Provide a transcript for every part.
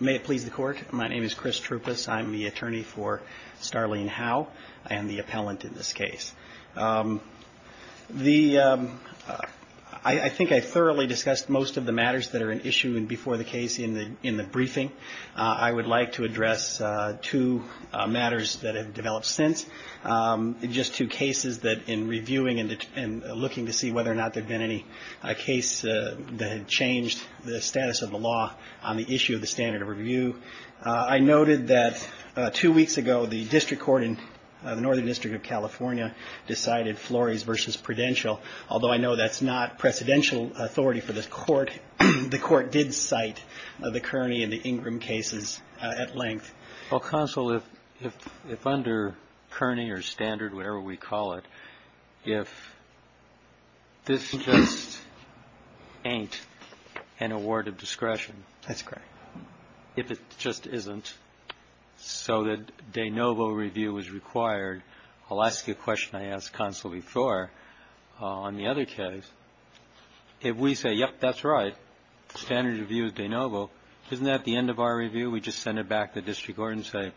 May it please the Court. My name is Chris Troupas. I'm the attorney for Starlene Howe. I am the appellant in this case. I think I thoroughly discussed most of the matters that are at issue before the case in the briefing. I would like to address two matters that have developed since. Just two cases that in reviewing and looking to see whether or not there had been any case that had changed the status of the law on the issue of the standard of review. I noted that two weeks ago the district court in the Northern District of California decided Flores v. Prudential. Although I know that's not presidential authority for the court, the court did cite the Kearney and the Ingram cases at length. Well, counsel, if under Kearney or standard, whatever we call it, if this just ain't an award of discretion. That's correct. If it just isn't so that de novo review is required, I'll ask you a question I asked counsel before on the other case. If we say, yep, that's right, standard of review is de novo, isn't that at the end of our review we just send it back to the district court and say,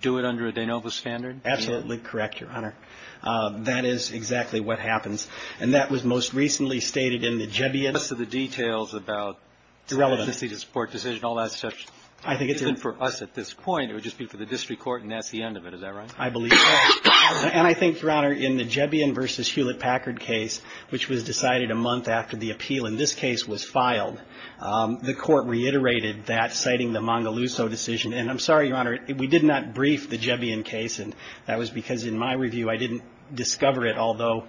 do it under a de novo standard? Absolutely correct, Your Honor. That is exactly what happens. And that was most recently stated in the Jebion. Most of the details about the court decision, all that stuff isn't for us at this point. It would just be for the district court and that's the end of it. Is that right? I believe so. And I think, Your Honor, in the Jebion v. Hewlett-Packard case, which was decided a month after the appeal in this case was filed, the court reiterated that, citing the Mangaluso decision. And I'm sorry, Your Honor, we did not brief the Jebion case. And that was because in my review I didn't discover it, although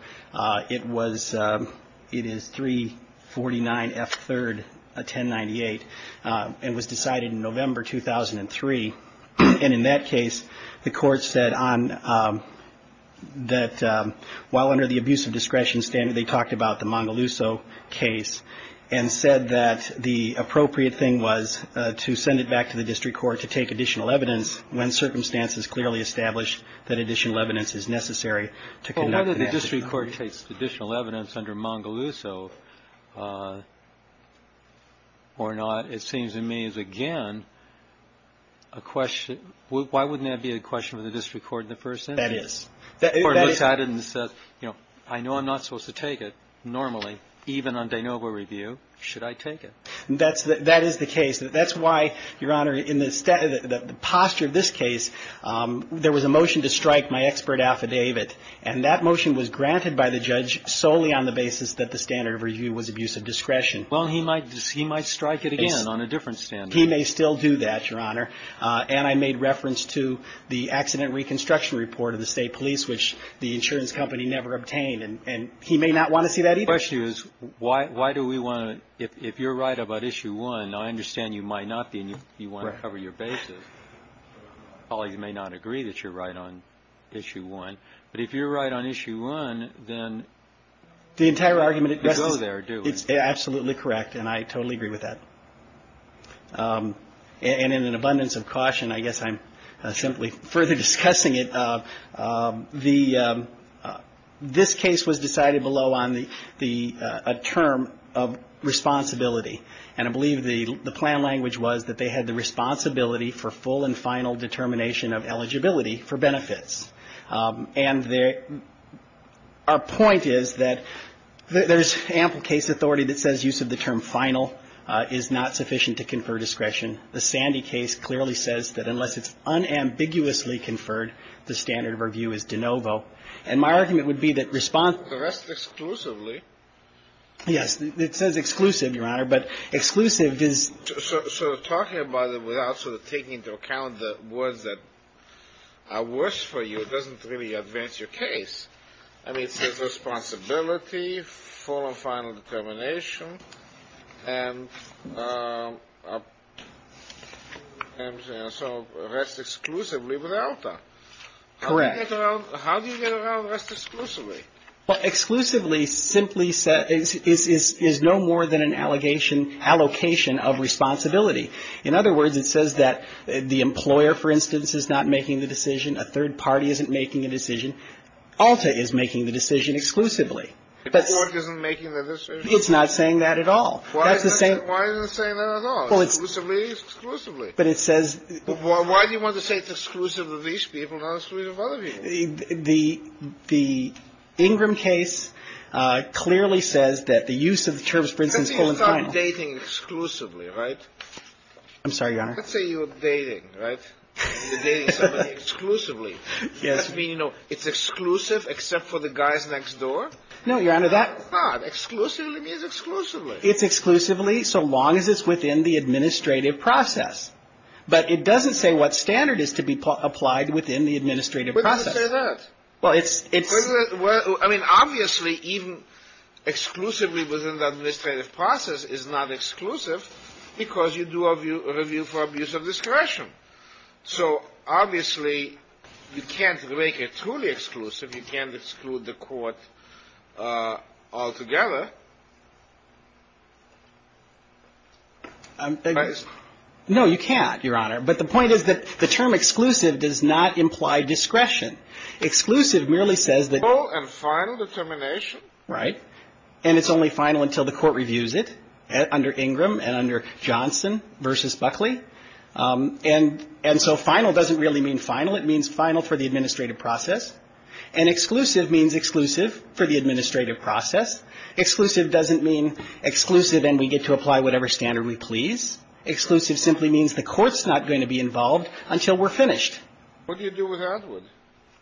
it was, it is 349 F3rd 1098 and was decided in November 2003. And in that case, the court said on that while under the abuse of discretion standard, they talked about the Mangaluso case and said that the appropriate thing was to send it back to the district court to take additional evidence when circumstances clearly established that additional evidence is necessary to conduct the investigation. If the district court takes additional evidence under Mangaluso or not, it seems to me is again a question. Why wouldn't that be a question for the district court in the first instance? That is. The court looks at it and says, you know, I know I'm not supposed to take it normally, even on de novo review. Should I take it? That is the case. That's why, Your Honor, in the posture of this case, there was a motion to strike my expert affidavit. And that motion was granted by the judge solely on the basis that the standard of review was abuse of discretion. Well, he might strike it again on a different standard. He may still do that, Your Honor. And I made reference to the accident reconstruction report of the state police, which the insurance company never obtained. And he may not want to see that either. My question is, why do we want to – if you're right about issue one, I understand you might not be and you want to cover your basis. Right. Colleagues may not agree that you're right on issue one. But if you're right on issue one, then you go there, do you? The entire argument addresses – it's absolutely correct, and I totally agree with that. And in an abundance of caution, I guess I'm simply further discussing it. The – this case was decided below on the – a term of responsibility. And I believe the plan language was that they had the responsibility for full and final determination of eligibility for benefits. And there – our point is that there's ample case authority that says use of the term final is not sufficient to confer discretion. The Sandy case clearly says that unless it's unambiguously conferred, the standard of review is de novo. And my argument would be that response – The rest exclusively. Yes. It says exclusive, Your Honor. But exclusive is – So talking about it without sort of taking into account the words that are worse for you doesn't really advance your case. I mean, it says responsibility, full and final determination, and so rest exclusively without that. Correct. How do you get around rest exclusively? Well, exclusively simply is no more than an allegation – allocation of responsibility. In other words, it says that the employer, for instance, is not making the decision, a third party isn't making a decision. ALTA is making the decision exclusively. The court isn't making the decision? It's not saying that at all. That's the same – Why isn't it saying that at all? Well, it's – Exclusively is exclusively. But it says – Why do you want to say it's exclusive of these people, not exclusive of other people? The Ingram case clearly says that the use of the terms, for instance, full and final – Let's say you start dating exclusively, right? I'm sorry, Your Honor. Let's say you're dating, right? You're dating somebody exclusively. Yes. Does that mean, you know, it's exclusive except for the guys next door? No, Your Honor, that – Ah, exclusively means exclusively. It's exclusively so long as it's within the administrative process. But it doesn't say what standard is to be applied within the administrative process. Why do you say that? Well, it's – Well, I mean, obviously, even exclusively within the administrative process is not exclusive because you do a review for abuse of discretion. So, obviously, you can't make it truly exclusive. You can't exclude the court altogether. No, you can't, Your Honor. But the point is that the term exclusive does not imply discretion. Exclusive merely says that – Full and final determination. Right. And it's only final until the court reviews it under Ingram and under Johnson v. Buckley. And so final doesn't really mean final. It means final for the administrative process. And exclusive means exclusive for the administrative process. Exclusive doesn't mean exclusive and we get to apply whatever standard we please. Exclusive simply means the court's not going to be involved until we're finished. What do you do with Atwood?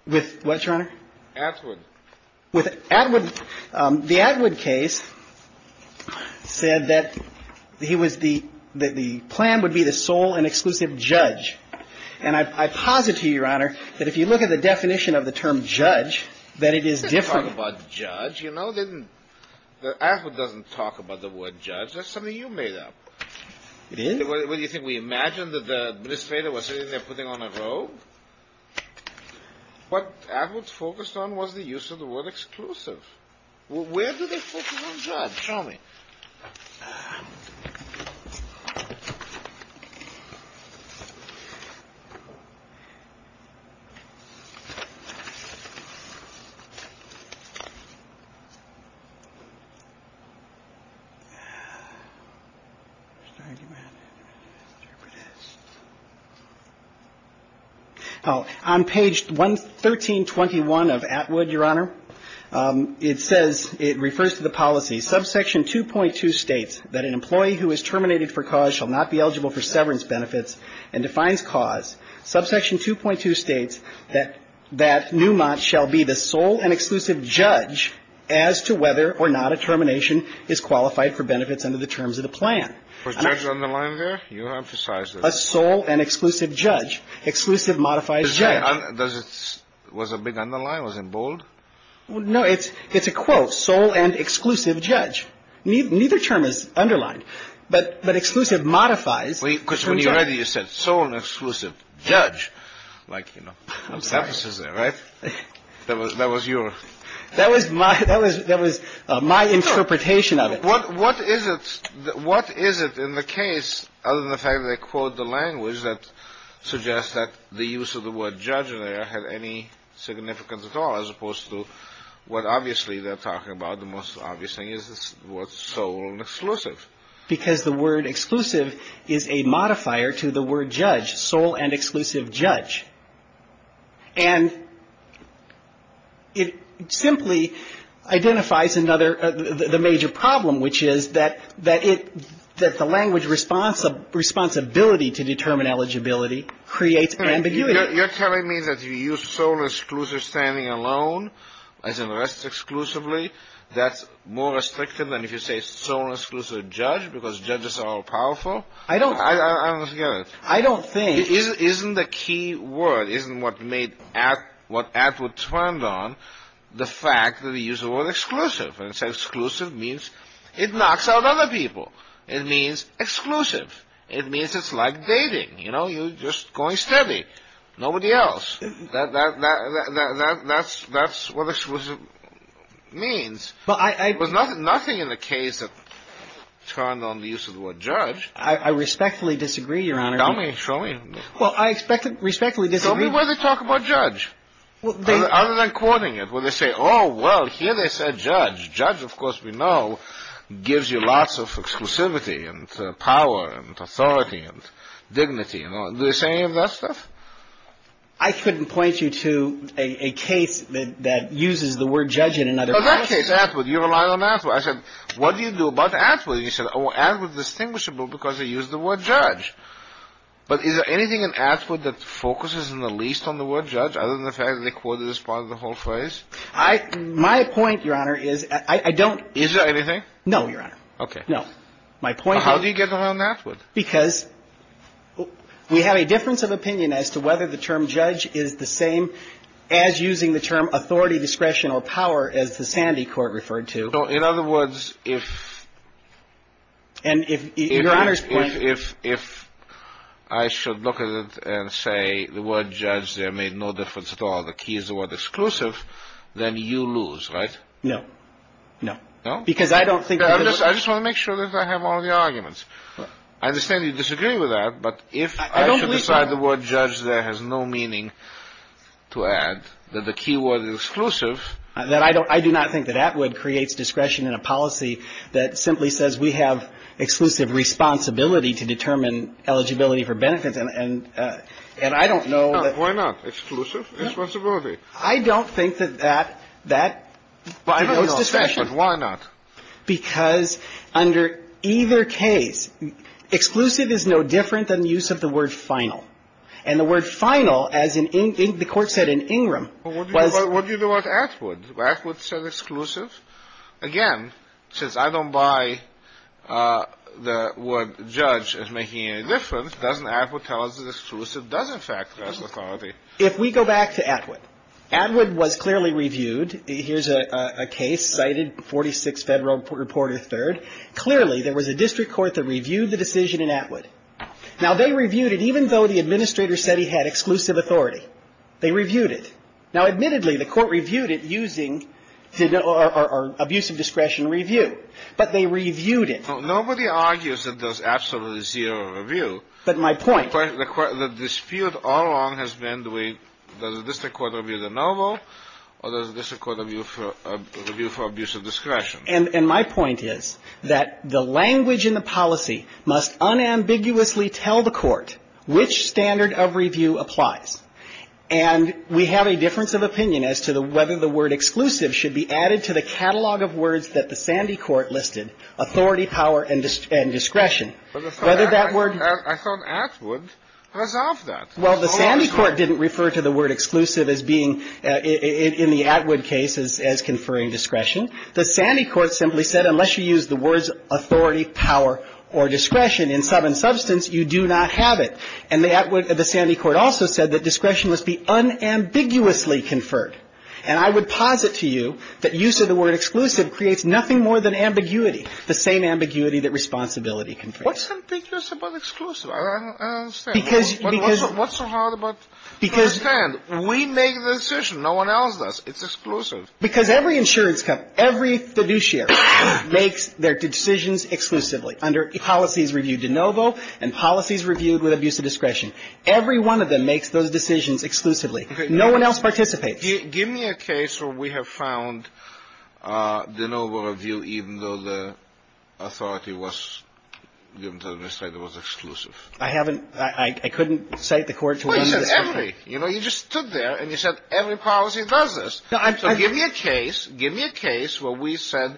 With what, Your Honor? Atwood. With Atwood – the Atwood case said that he was the – that the plan would be the sole and exclusive judge. And I posit to you, Your Honor, that if you look at the definition of the term judge, that it is different. You know, they didn't – Atwood doesn't talk about the word judge. That's something you made up. It is? What do you think, we imagined that the administrator was sitting there putting on a robe? What Atwood focused on was the use of the word exclusive. Where do they focus on judge? Show me. On page 1321 of Atwood, Your Honor, it says – it refers to the policy. Subsection 2.2 states that an employee who is terminated for cause shall not be eligible for severance benefits and defines cause. Subsection 2.2 states that – that Newmont shall be the sole and exclusive judge as to whether or not a termination is qualified for benefits under the terms of the plan. Was judge underlined there? You emphasized it. A sole and exclusive judge. Exclusive modifies judge. Does it – was a big underline? Was it bold? No, it's a quote. Sole and exclusive judge. Neither term is underlined. But exclusive modifies – Because when you read it, you said sole and exclusive judge. I'm sorry. That was your – That was my interpretation of it. What is it in the case, other than the fact that they quote the language that suggests that the use of the word judge in there had any significance at all, as opposed to what obviously they're talking about, the most obvious thing is the word sole and exclusive. Because the word exclusive is a modifier to the word judge, sole and exclusive judge. And it simply identifies another – the major problem, which is that it – that the language responsibility to determine eligibility creates ambiguity. You're telling me that you use sole and exclusive standing alone, as in rest exclusively. That's more restrictive than if you say sole and exclusive judge, because judges are all powerful? I don't – I don't get it. I don't think – Isn't the key word, isn't what made – what Atwood turned on the fact that he used the word exclusive? And he said exclusive means it knocks out other people. It means exclusive. It means it's like dating. You know, you're just going steady. Nobody else. That's what exclusive means. But I – It was nothing in the case that turned on the use of the word judge. I respectfully disagree, Your Honor. Show me. Well, I respectfully disagree. Show me where they talk about judge. Other than quoting it, where they say, oh, well, here they said judge. Judge, of course, we know, gives you lots of exclusivity and power and authority and dignity. Do they say any of that stuff? I couldn't point you to a case that uses the word judge in another case. In that case, Atwood, you relied on Atwood. I said, what do you do about Atwood? And he said, oh, Atwood is distinguishable because he used the word judge. But is there anything in Atwood that focuses in the least on the word judge, other than the fact that they quoted as part of the whole phrase? My point, Your Honor, is I don't – Is there anything? No, Your Honor. Okay. No. My point is – How do you get around Atwood? Because we have a difference of opinion as to whether the term judge is the same as using the term authority, discretion, or power as the sanity court referred to. So, in other words, if – And if – Your Honor's point – If I should look at it and say the word judge there made no difference at all, the key is the word exclusive, then you lose, right? No. No? Because I don't think – I just want to make sure that I have all the arguments. I understand you disagree with that, but if I should decide the word judge there has no meaning to add, that the key word is exclusive – I do not think that Atwood creates discretion in a policy that simply says we have exclusive responsibility to determine eligibility for benefits. And I don't know that – Why not? Exclusive responsibility. I don't think that that – that – I don't know its discretion. Why not? Because under either case, exclusive is no different than the use of the word final. And the word final, as the Court said in Ingram, was – Well, what do you do about Atwood? Atwood says exclusive. Again, since I don't buy the word judge as making any difference, doesn't Atwood tell us that exclusive does, in fact, have authority? If we go back to Atwood, Atwood was clearly reviewed. Here's a case cited, 46 Federal Reporter 3rd. Clearly, there was a district court that reviewed the decision in Atwood. Now, they reviewed it even though the administrator said he had exclusive authority. They reviewed it. Now, admittedly, the Court reviewed it using – or abuse of discretion review. But they reviewed it. Nobody argues that there's absolutely zero review. But my point – The dispute all along has been, does the district court review the novel or does the district court review for abuse of discretion? And my point is that the language in the policy must unambiguously tell the Court which standard of review applies. And we have a difference of opinion as to whether the word exclusive should be added to the catalog of words that the Sandy Court listed, authority, power, and discretion. Whether that word – I thought Atwood resolved that. Well, the Sandy Court didn't refer to the word exclusive as being in the Atwood case as conferring discretion. The Sandy Court simply said unless you use the words authority, power, or discretion in some substance, you do not have it. And the Atwood – the Sandy Court also said that discretion must be unambiguously conferred. And I would posit to you that use of the word exclusive creates nothing more than ambiguity, the same ambiguity that responsibility can create. What's ambiguous about exclusive? I don't understand. Because – because – What's so hard about – Because – I don't understand. We make the decision. No one else does. It's exclusive. Because every insurance company, every fiduciary makes their decisions exclusively under policies reviewed de novo and policies reviewed with abuse of discretion. Every one of them makes those decisions exclusively. Okay. No one else participates. Give me a case where we have found de novo review even though the authority was, given to the Administrator, was exclusive. I haven't – I couldn't cite the court to – Well, you said every. You know, you just stood there and you said every policy does this. So give me a case – give me a case where we said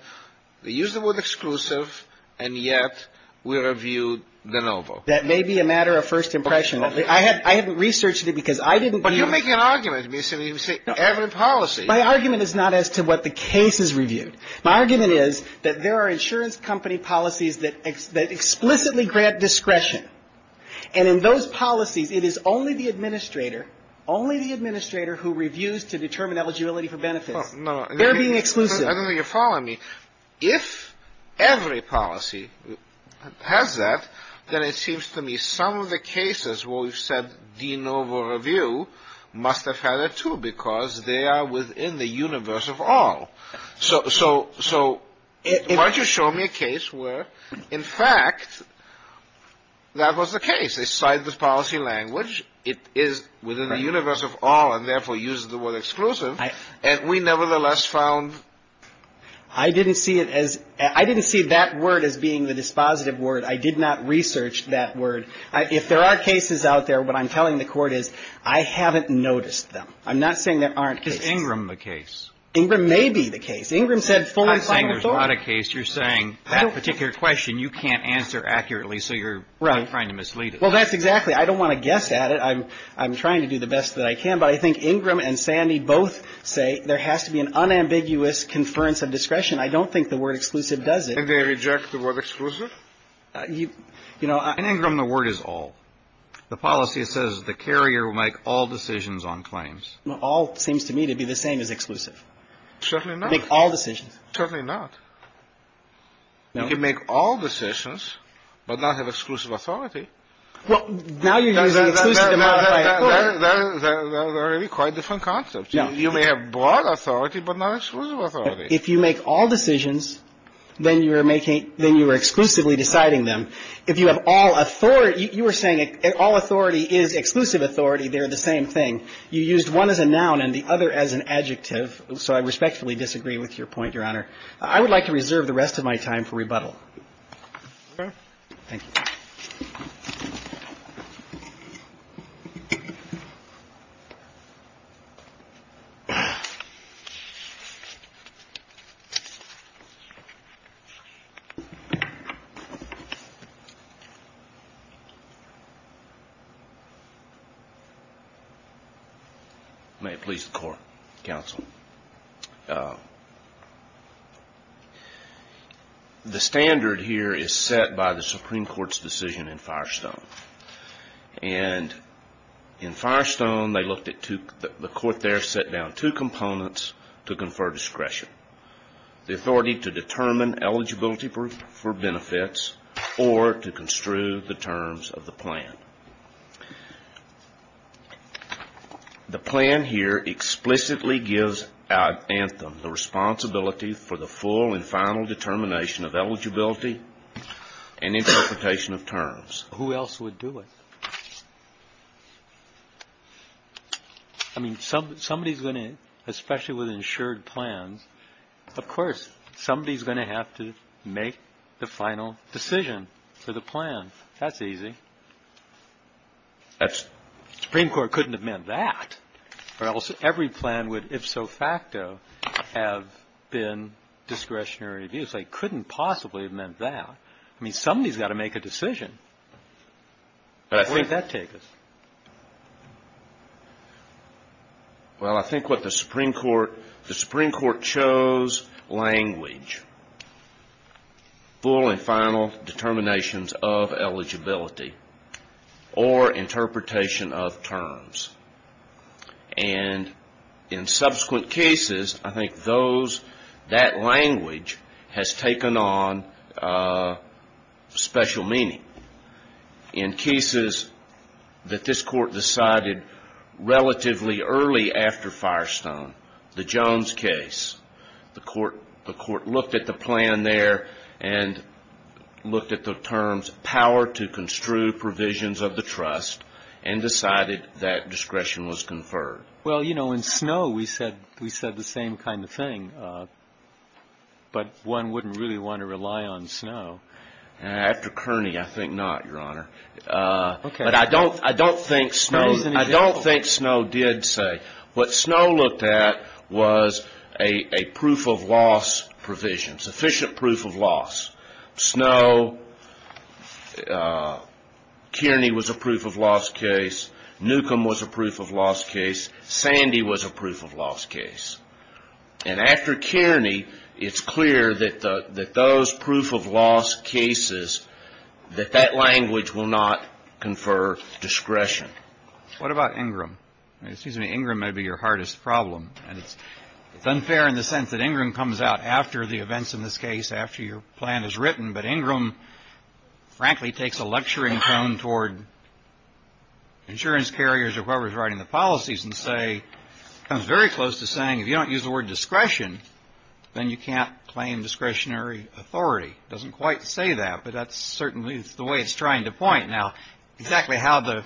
they used the word exclusive and yet we reviewed de novo. That may be a matter of first impression. I haven't researched it because I didn't – But you're making an argument. You say every policy. My argument is not as to what the case is reviewed. My argument is that there are insurance company policies that explicitly grant discretion. And in those policies, it is only the Administrator, only the Administrator, who reviews to determine eligibility for benefits. No. They're being exclusive. I don't think you're following me. If every policy has that, then it seems to me some of the cases where we've said de novo review must have had it, too, because they are within the universe of all. So why don't you show me a case where, in fact, that was the case. They cite the policy language. It is within the universe of all and, therefore, uses the word exclusive. And we, nevertheless, found – I didn't see it as – I didn't see that word as being the dispositive word. I did not research that word. If there are cases out there, what I'm telling the Court is I haven't noticed them. I'm not saying there aren't cases. Is Ingram the case? Ingram may be the case. Ingram said full and final authority. I'm not saying there's not a case. You're saying that particular question you can't answer accurately, so you're trying to mislead us. Well, that's exactly. I don't want to guess at it. I'm trying to do the best that I can. But I think Ingram and Sandy both say there has to be an unambiguous conference of discretion. I don't think the word exclusive does it. And they reject the word exclusive? In Ingram, the word is all. The policy says the carrier will make all decisions on claims. All seems to me to be the same as exclusive. Certainly not. Make all decisions. Certainly not. You can make all decisions but not have exclusive authority. Well, now you're using exclusive to modify it. They're really quite different concepts. You may have broad authority but not exclusive authority. If you make all decisions, then you are making – then you are exclusively deciding them. If you have all authority – you were saying all authority is exclusive authority. They're the same thing. You used one as a noun and the other as an adjective, so I respectfully disagree with your point, Your Honor. I would like to reserve the rest of my time for rebuttal. Thank you. May it please the Court, Counsel. The standard here is set by the Supreme Court's decision in Firestone. And in Firestone, they looked at two – the Court there set down two components to confer discretion. The authority to determine eligibility for benefits or to construe the terms of the plan. The plan here explicitly gives Anthem the responsibility for the full and final determination of eligibility and interpretation of terms. Who else would do it? I mean, somebody's going to – especially with insured plans. Of course, somebody's going to have to make the final decision for the plan. That's easy. That's – The Supreme Court couldn't have meant that. Or else every plan would, if so facto, have been discretionary abuse. They couldn't possibly have meant that. I mean, somebody's got to make a decision. Where does that take us? Well, I think what the Supreme Court – the Supreme Court chose language. Full and final determinations of eligibility or interpretation of terms. And in subsequent cases, I think those – that language has taken on special meaning. In cases that this Court decided relatively early after Firestone, the Jones case, the Court looked at the plan there and looked at the terms power to construe provisions of the trust and decided that discretion was conferred. Well, you know, in Snowe, we said the same kind of thing. But one wouldn't really want to rely on Snowe. After Kearney, I think not, Your Honor. But I don't think Snowe did say – what Snowe looked at was a proof of loss provision, sufficient proof of loss. Snowe – Kearney was a proof of loss case. Newcomb was a proof of loss case. Sandy was a proof of loss case. And after Kearney, it's clear that those proof of loss cases, that that language will not confer discretion. What about Ingram? Excuse me, Ingram may be your hardest problem. And it's unfair in the sense that Ingram comes out after the events in this case, after your plan is written. But Ingram, frankly, takes a lecturing tone toward insurance carriers or whoever is writing the policies and comes very close to saying if you don't use the word discretion, then you can't claim discretionary authority. It doesn't quite say that, but that's certainly the way it's trying to point. Now, exactly how the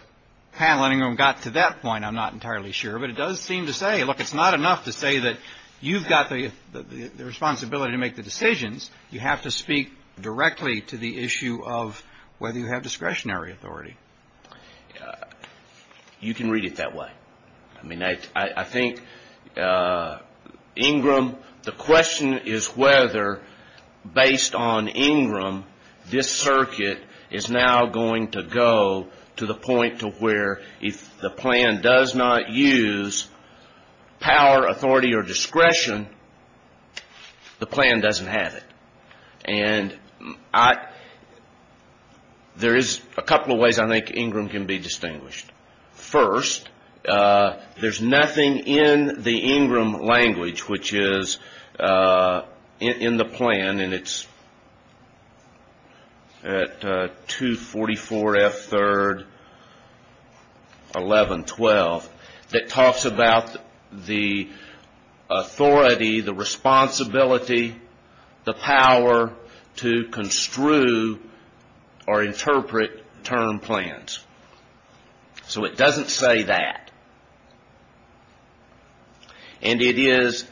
panel, Ingram, got to that point, I'm not entirely sure. But it does seem to say, look, it's not enough to say that you've got the responsibility to make the decisions. You have to speak directly to the issue of whether you have discretionary authority. You can read it that way. I mean, I think Ingram, the question is whether, based on Ingram, this circuit is now going to go to the point to where if the plan does not use power, authority, or discretion, the plan doesn't have it. And there is a couple of ways I think Ingram can be distinguished. First, there's nothing in the Ingram language, which is in the plan, and it's at 244F3-1112, that talks about the authority, the responsibility, the power to construe or interpret term plans. So it doesn't say that. And it is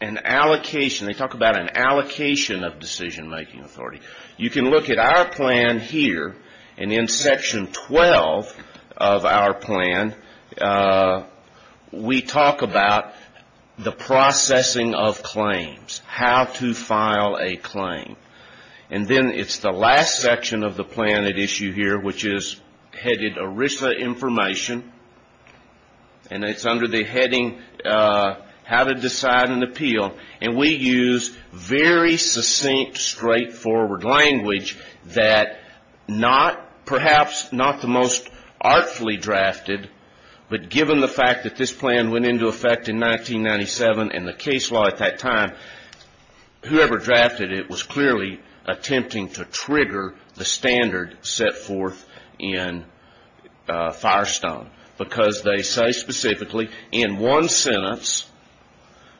an allocation. They talk about an allocation of decision-making authority. You can look at our plan here, and in Section 12 of our plan, we talk about the processing of claims, how to file a claim. And then it's the last section of the plan at issue here, which is headed ERISA information, and it's under the heading How to Decide and Appeal. And we use very succinct, straightforward language that perhaps not the most artfully drafted, but given the fact that this plan went into effect in 1997 and the case law at that time, whoever drafted it was clearly attempting to trigger the standard set forth in Firestone, because they say specifically in one sentence,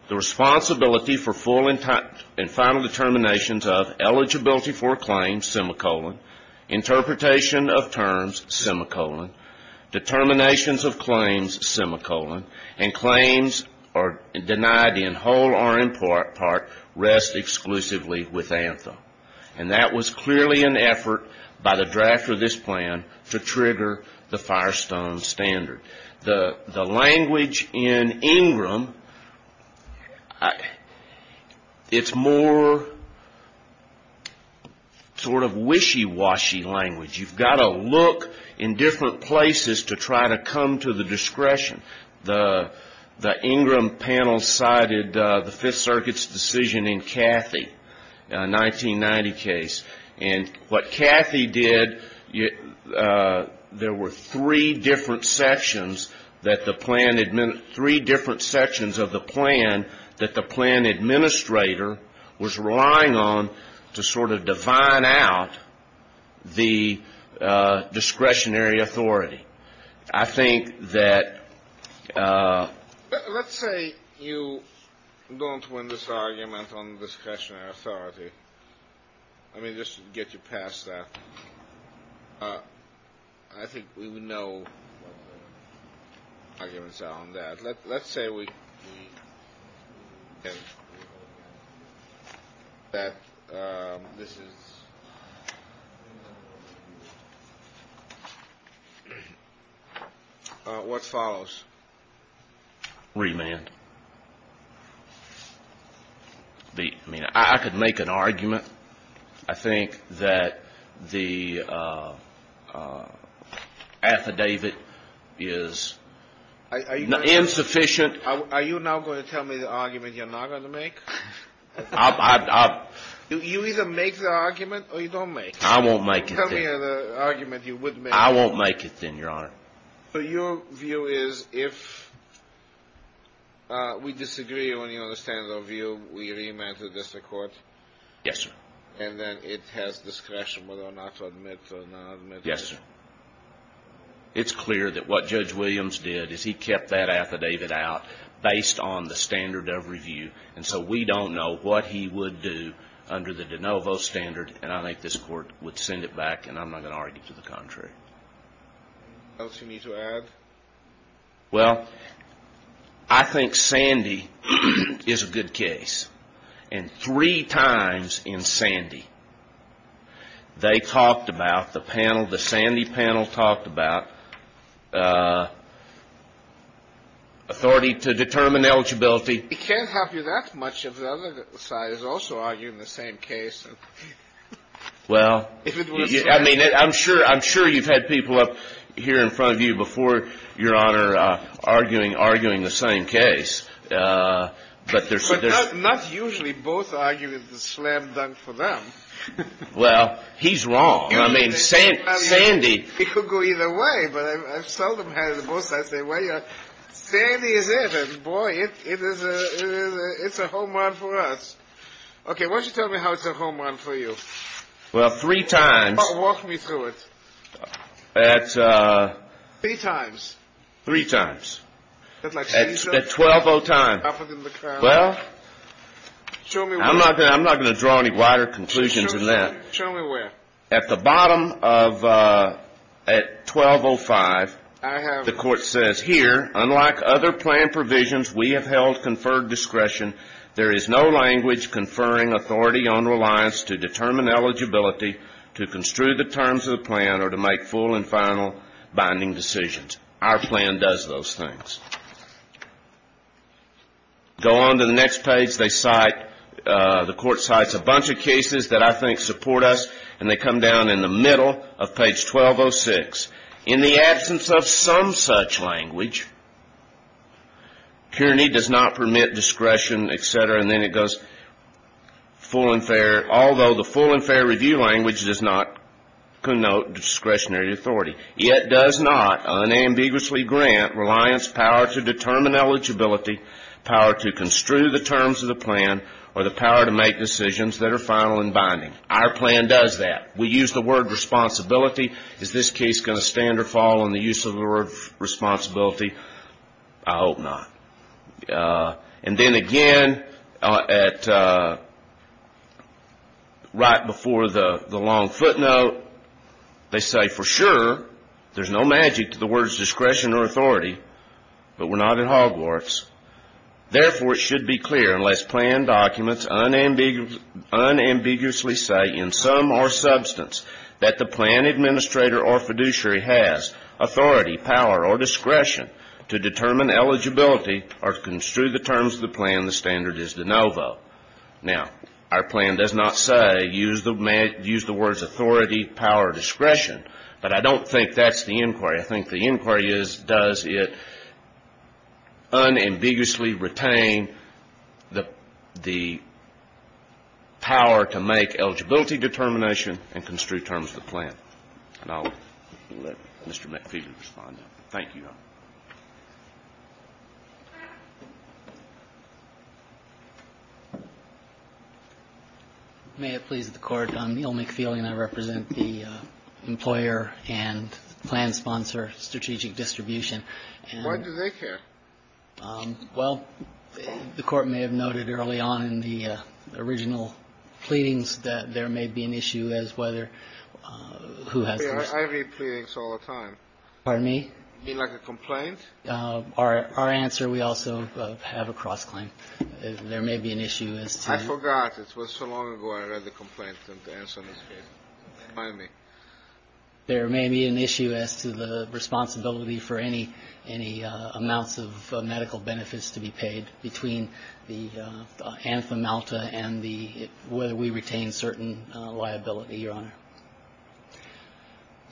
the responsibility for full and final determinations of eligibility for claims, semicolon, interpretation of terms, semicolon, determinations of claims, semicolon, and claims denied in whole or in part rest exclusively with anthem. And that was clearly an effort by the drafter of this plan to trigger the Firestone standard. The language in Ingram, it's more sort of wishy-washy language. You've got to look in different places to try to come to the discretion. The Ingram panel cited the Fifth Circuit's decision in Cathy, a 1990 case. And what Cathy did, there were three different sections of the plan that the plan administrator was relying on to sort of divine out the discretionary authority. I think that — Let's say you don't win this argument on discretionary authority. Let me just get you past that. I think we would know what the arguments are on that. Let's say that this is — what follows? Remand. I mean, I could make an argument. I think that the affidavit is insufficient. Are you now going to tell me the argument you're not going to make? You either make the argument or you don't make it. I won't make it, then. Tell me the argument you would make. I won't make it, then, Your Honor. So your view is if we disagree on the standard of review, we remand to the district court? Yes, sir. And then it has discretion whether or not to admit or not admit? Yes, sir. It's clear that what Judge Williams did is he kept that affidavit out based on the standard of review. And so we don't know what he would do under the de novo standard. And I think this Court would send it back, and I'm not going to argue to the contrary. Anything else you need to add? Well, I think Sandy is a good case. And three times in Sandy, they talked about — the panel, the Sandy panel talked about authority to determine eligibility. It can't help you that much if the other side is also arguing the same case. Well, I mean, I'm sure you've had people up here in front of you before, Your Honor, arguing the same case. But not usually both argue with the slam dunk for them. Well, he's wrong. I mean, Sandy — He could go either way, but I've seldom had both sides say, well, Sandy is it, and boy, it's a home run for us. Okay, why don't you tell me how it's a home run for you. Well, three times — Walk me through it. Three times. Three times. At 12.05. Well, I'm not going to draw any wider conclusions than that. Show me where. At the bottom of — at 12.05, the court says, here, unlike other plan provisions, we have held conferred discretion. There is no language conferring authority on reliance to determine eligibility to construe the terms of the plan or to make full and final binding decisions. Our plan does those things. Go on to the next page. The court cites a bunch of cases that I think support us, and they come down in the middle of page 1206. In the absence of some such language, Kearney does not permit discretion, et cetera. And then it goes, although the full and fair review language does not connote discretionary authority, it does not unambiguously grant reliance power to determine eligibility, power to construe the terms of the plan, or the power to make decisions that are final and binding. Our plan does that. We use the word responsibility. Is this case going to stand or fall on the use of the word responsibility? I hope not. And then again, right before the long footnote, they say, for sure, there's no magic to the words discretion or authority, but we're not at Hogwarts. Therefore, it should be clear, unless planned documents unambiguously say in some or substance that the plan administrator or fiduciary has authority, power, or discretion to determine eligibility or to construe the terms of the plan, the standard is de novo. Now, our plan does not say, use the words authority, power, or discretion, but I don't think that's the inquiry. I think the inquiry is, does it unambiguously retain the power to make eligibility determination and construe terms of the plan? And I'll let Mr. McFeely respond. Thank you. May it please the Court. I'm Neil McFeely, and I represent the employer and plan sponsor, Strategic Distribution. Why do they care? Well, the Court may have noted early on in the original pleadings that there may be an issue as whether who has the right. I read pleadings all the time. Pardon me? You mean like a complaint? Our answer, we also have a cross-claim. There may be an issue as to. I forgot. It was so long ago I read the complaint and the answer was here. Remind me. There may be an issue as to the responsibility for any amounts of medical benefits to be paid between the anthem alta and the whether we retain certain liability, Your Honor.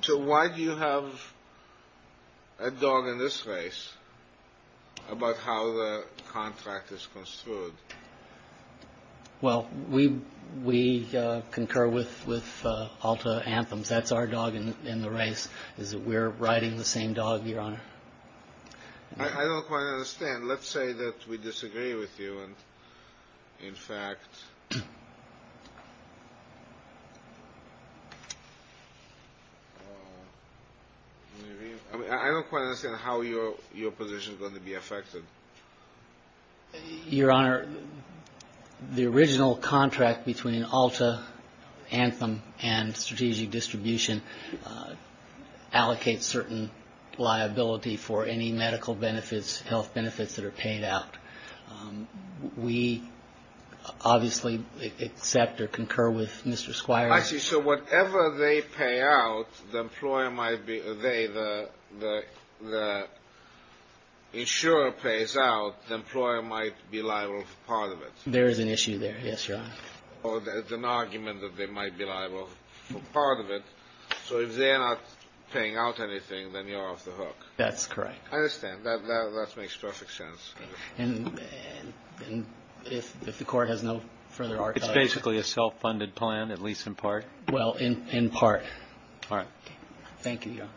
So why do you have a dog in this race about how the contract is construed? Well, we concur with alta anthems. That's our dog in the race is that we're riding the same dog, Your Honor. I don't quite understand. Let's say that we disagree with you. And, in fact, I don't quite understand how your position is going to be affected. Your Honor, the original contract between alta anthem and strategic distribution allocates certain liability for any medical benefits, health benefits that are paid out. We obviously accept or concur with Mr. Squire's. I see. So whatever they pay out, the employer might be the insurer pays out. The employer might be liable for part of it. There is an issue there. Yes, Your Honor. Or there's an argument that they might be liable for part of it. So if they're not paying out anything, then you're off the hook. That's correct. I understand. That makes perfect sense. And if the court has no further argument. It's basically a self-funded plan, at least in part. Well, in part. All right. Thank you, Your Honor.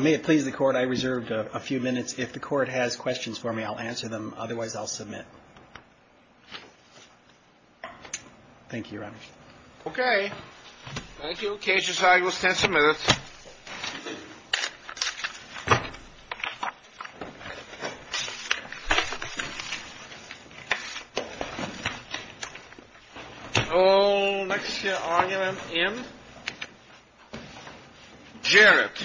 May it please the court, I reserved a few minutes. If the court has questions for me, I'll answer them. Otherwise, I'll submit. Thank you, Your Honor. Okay. Thank you. Okay. Just a second. We'll stand for a minute. Next argument in. Jarrett.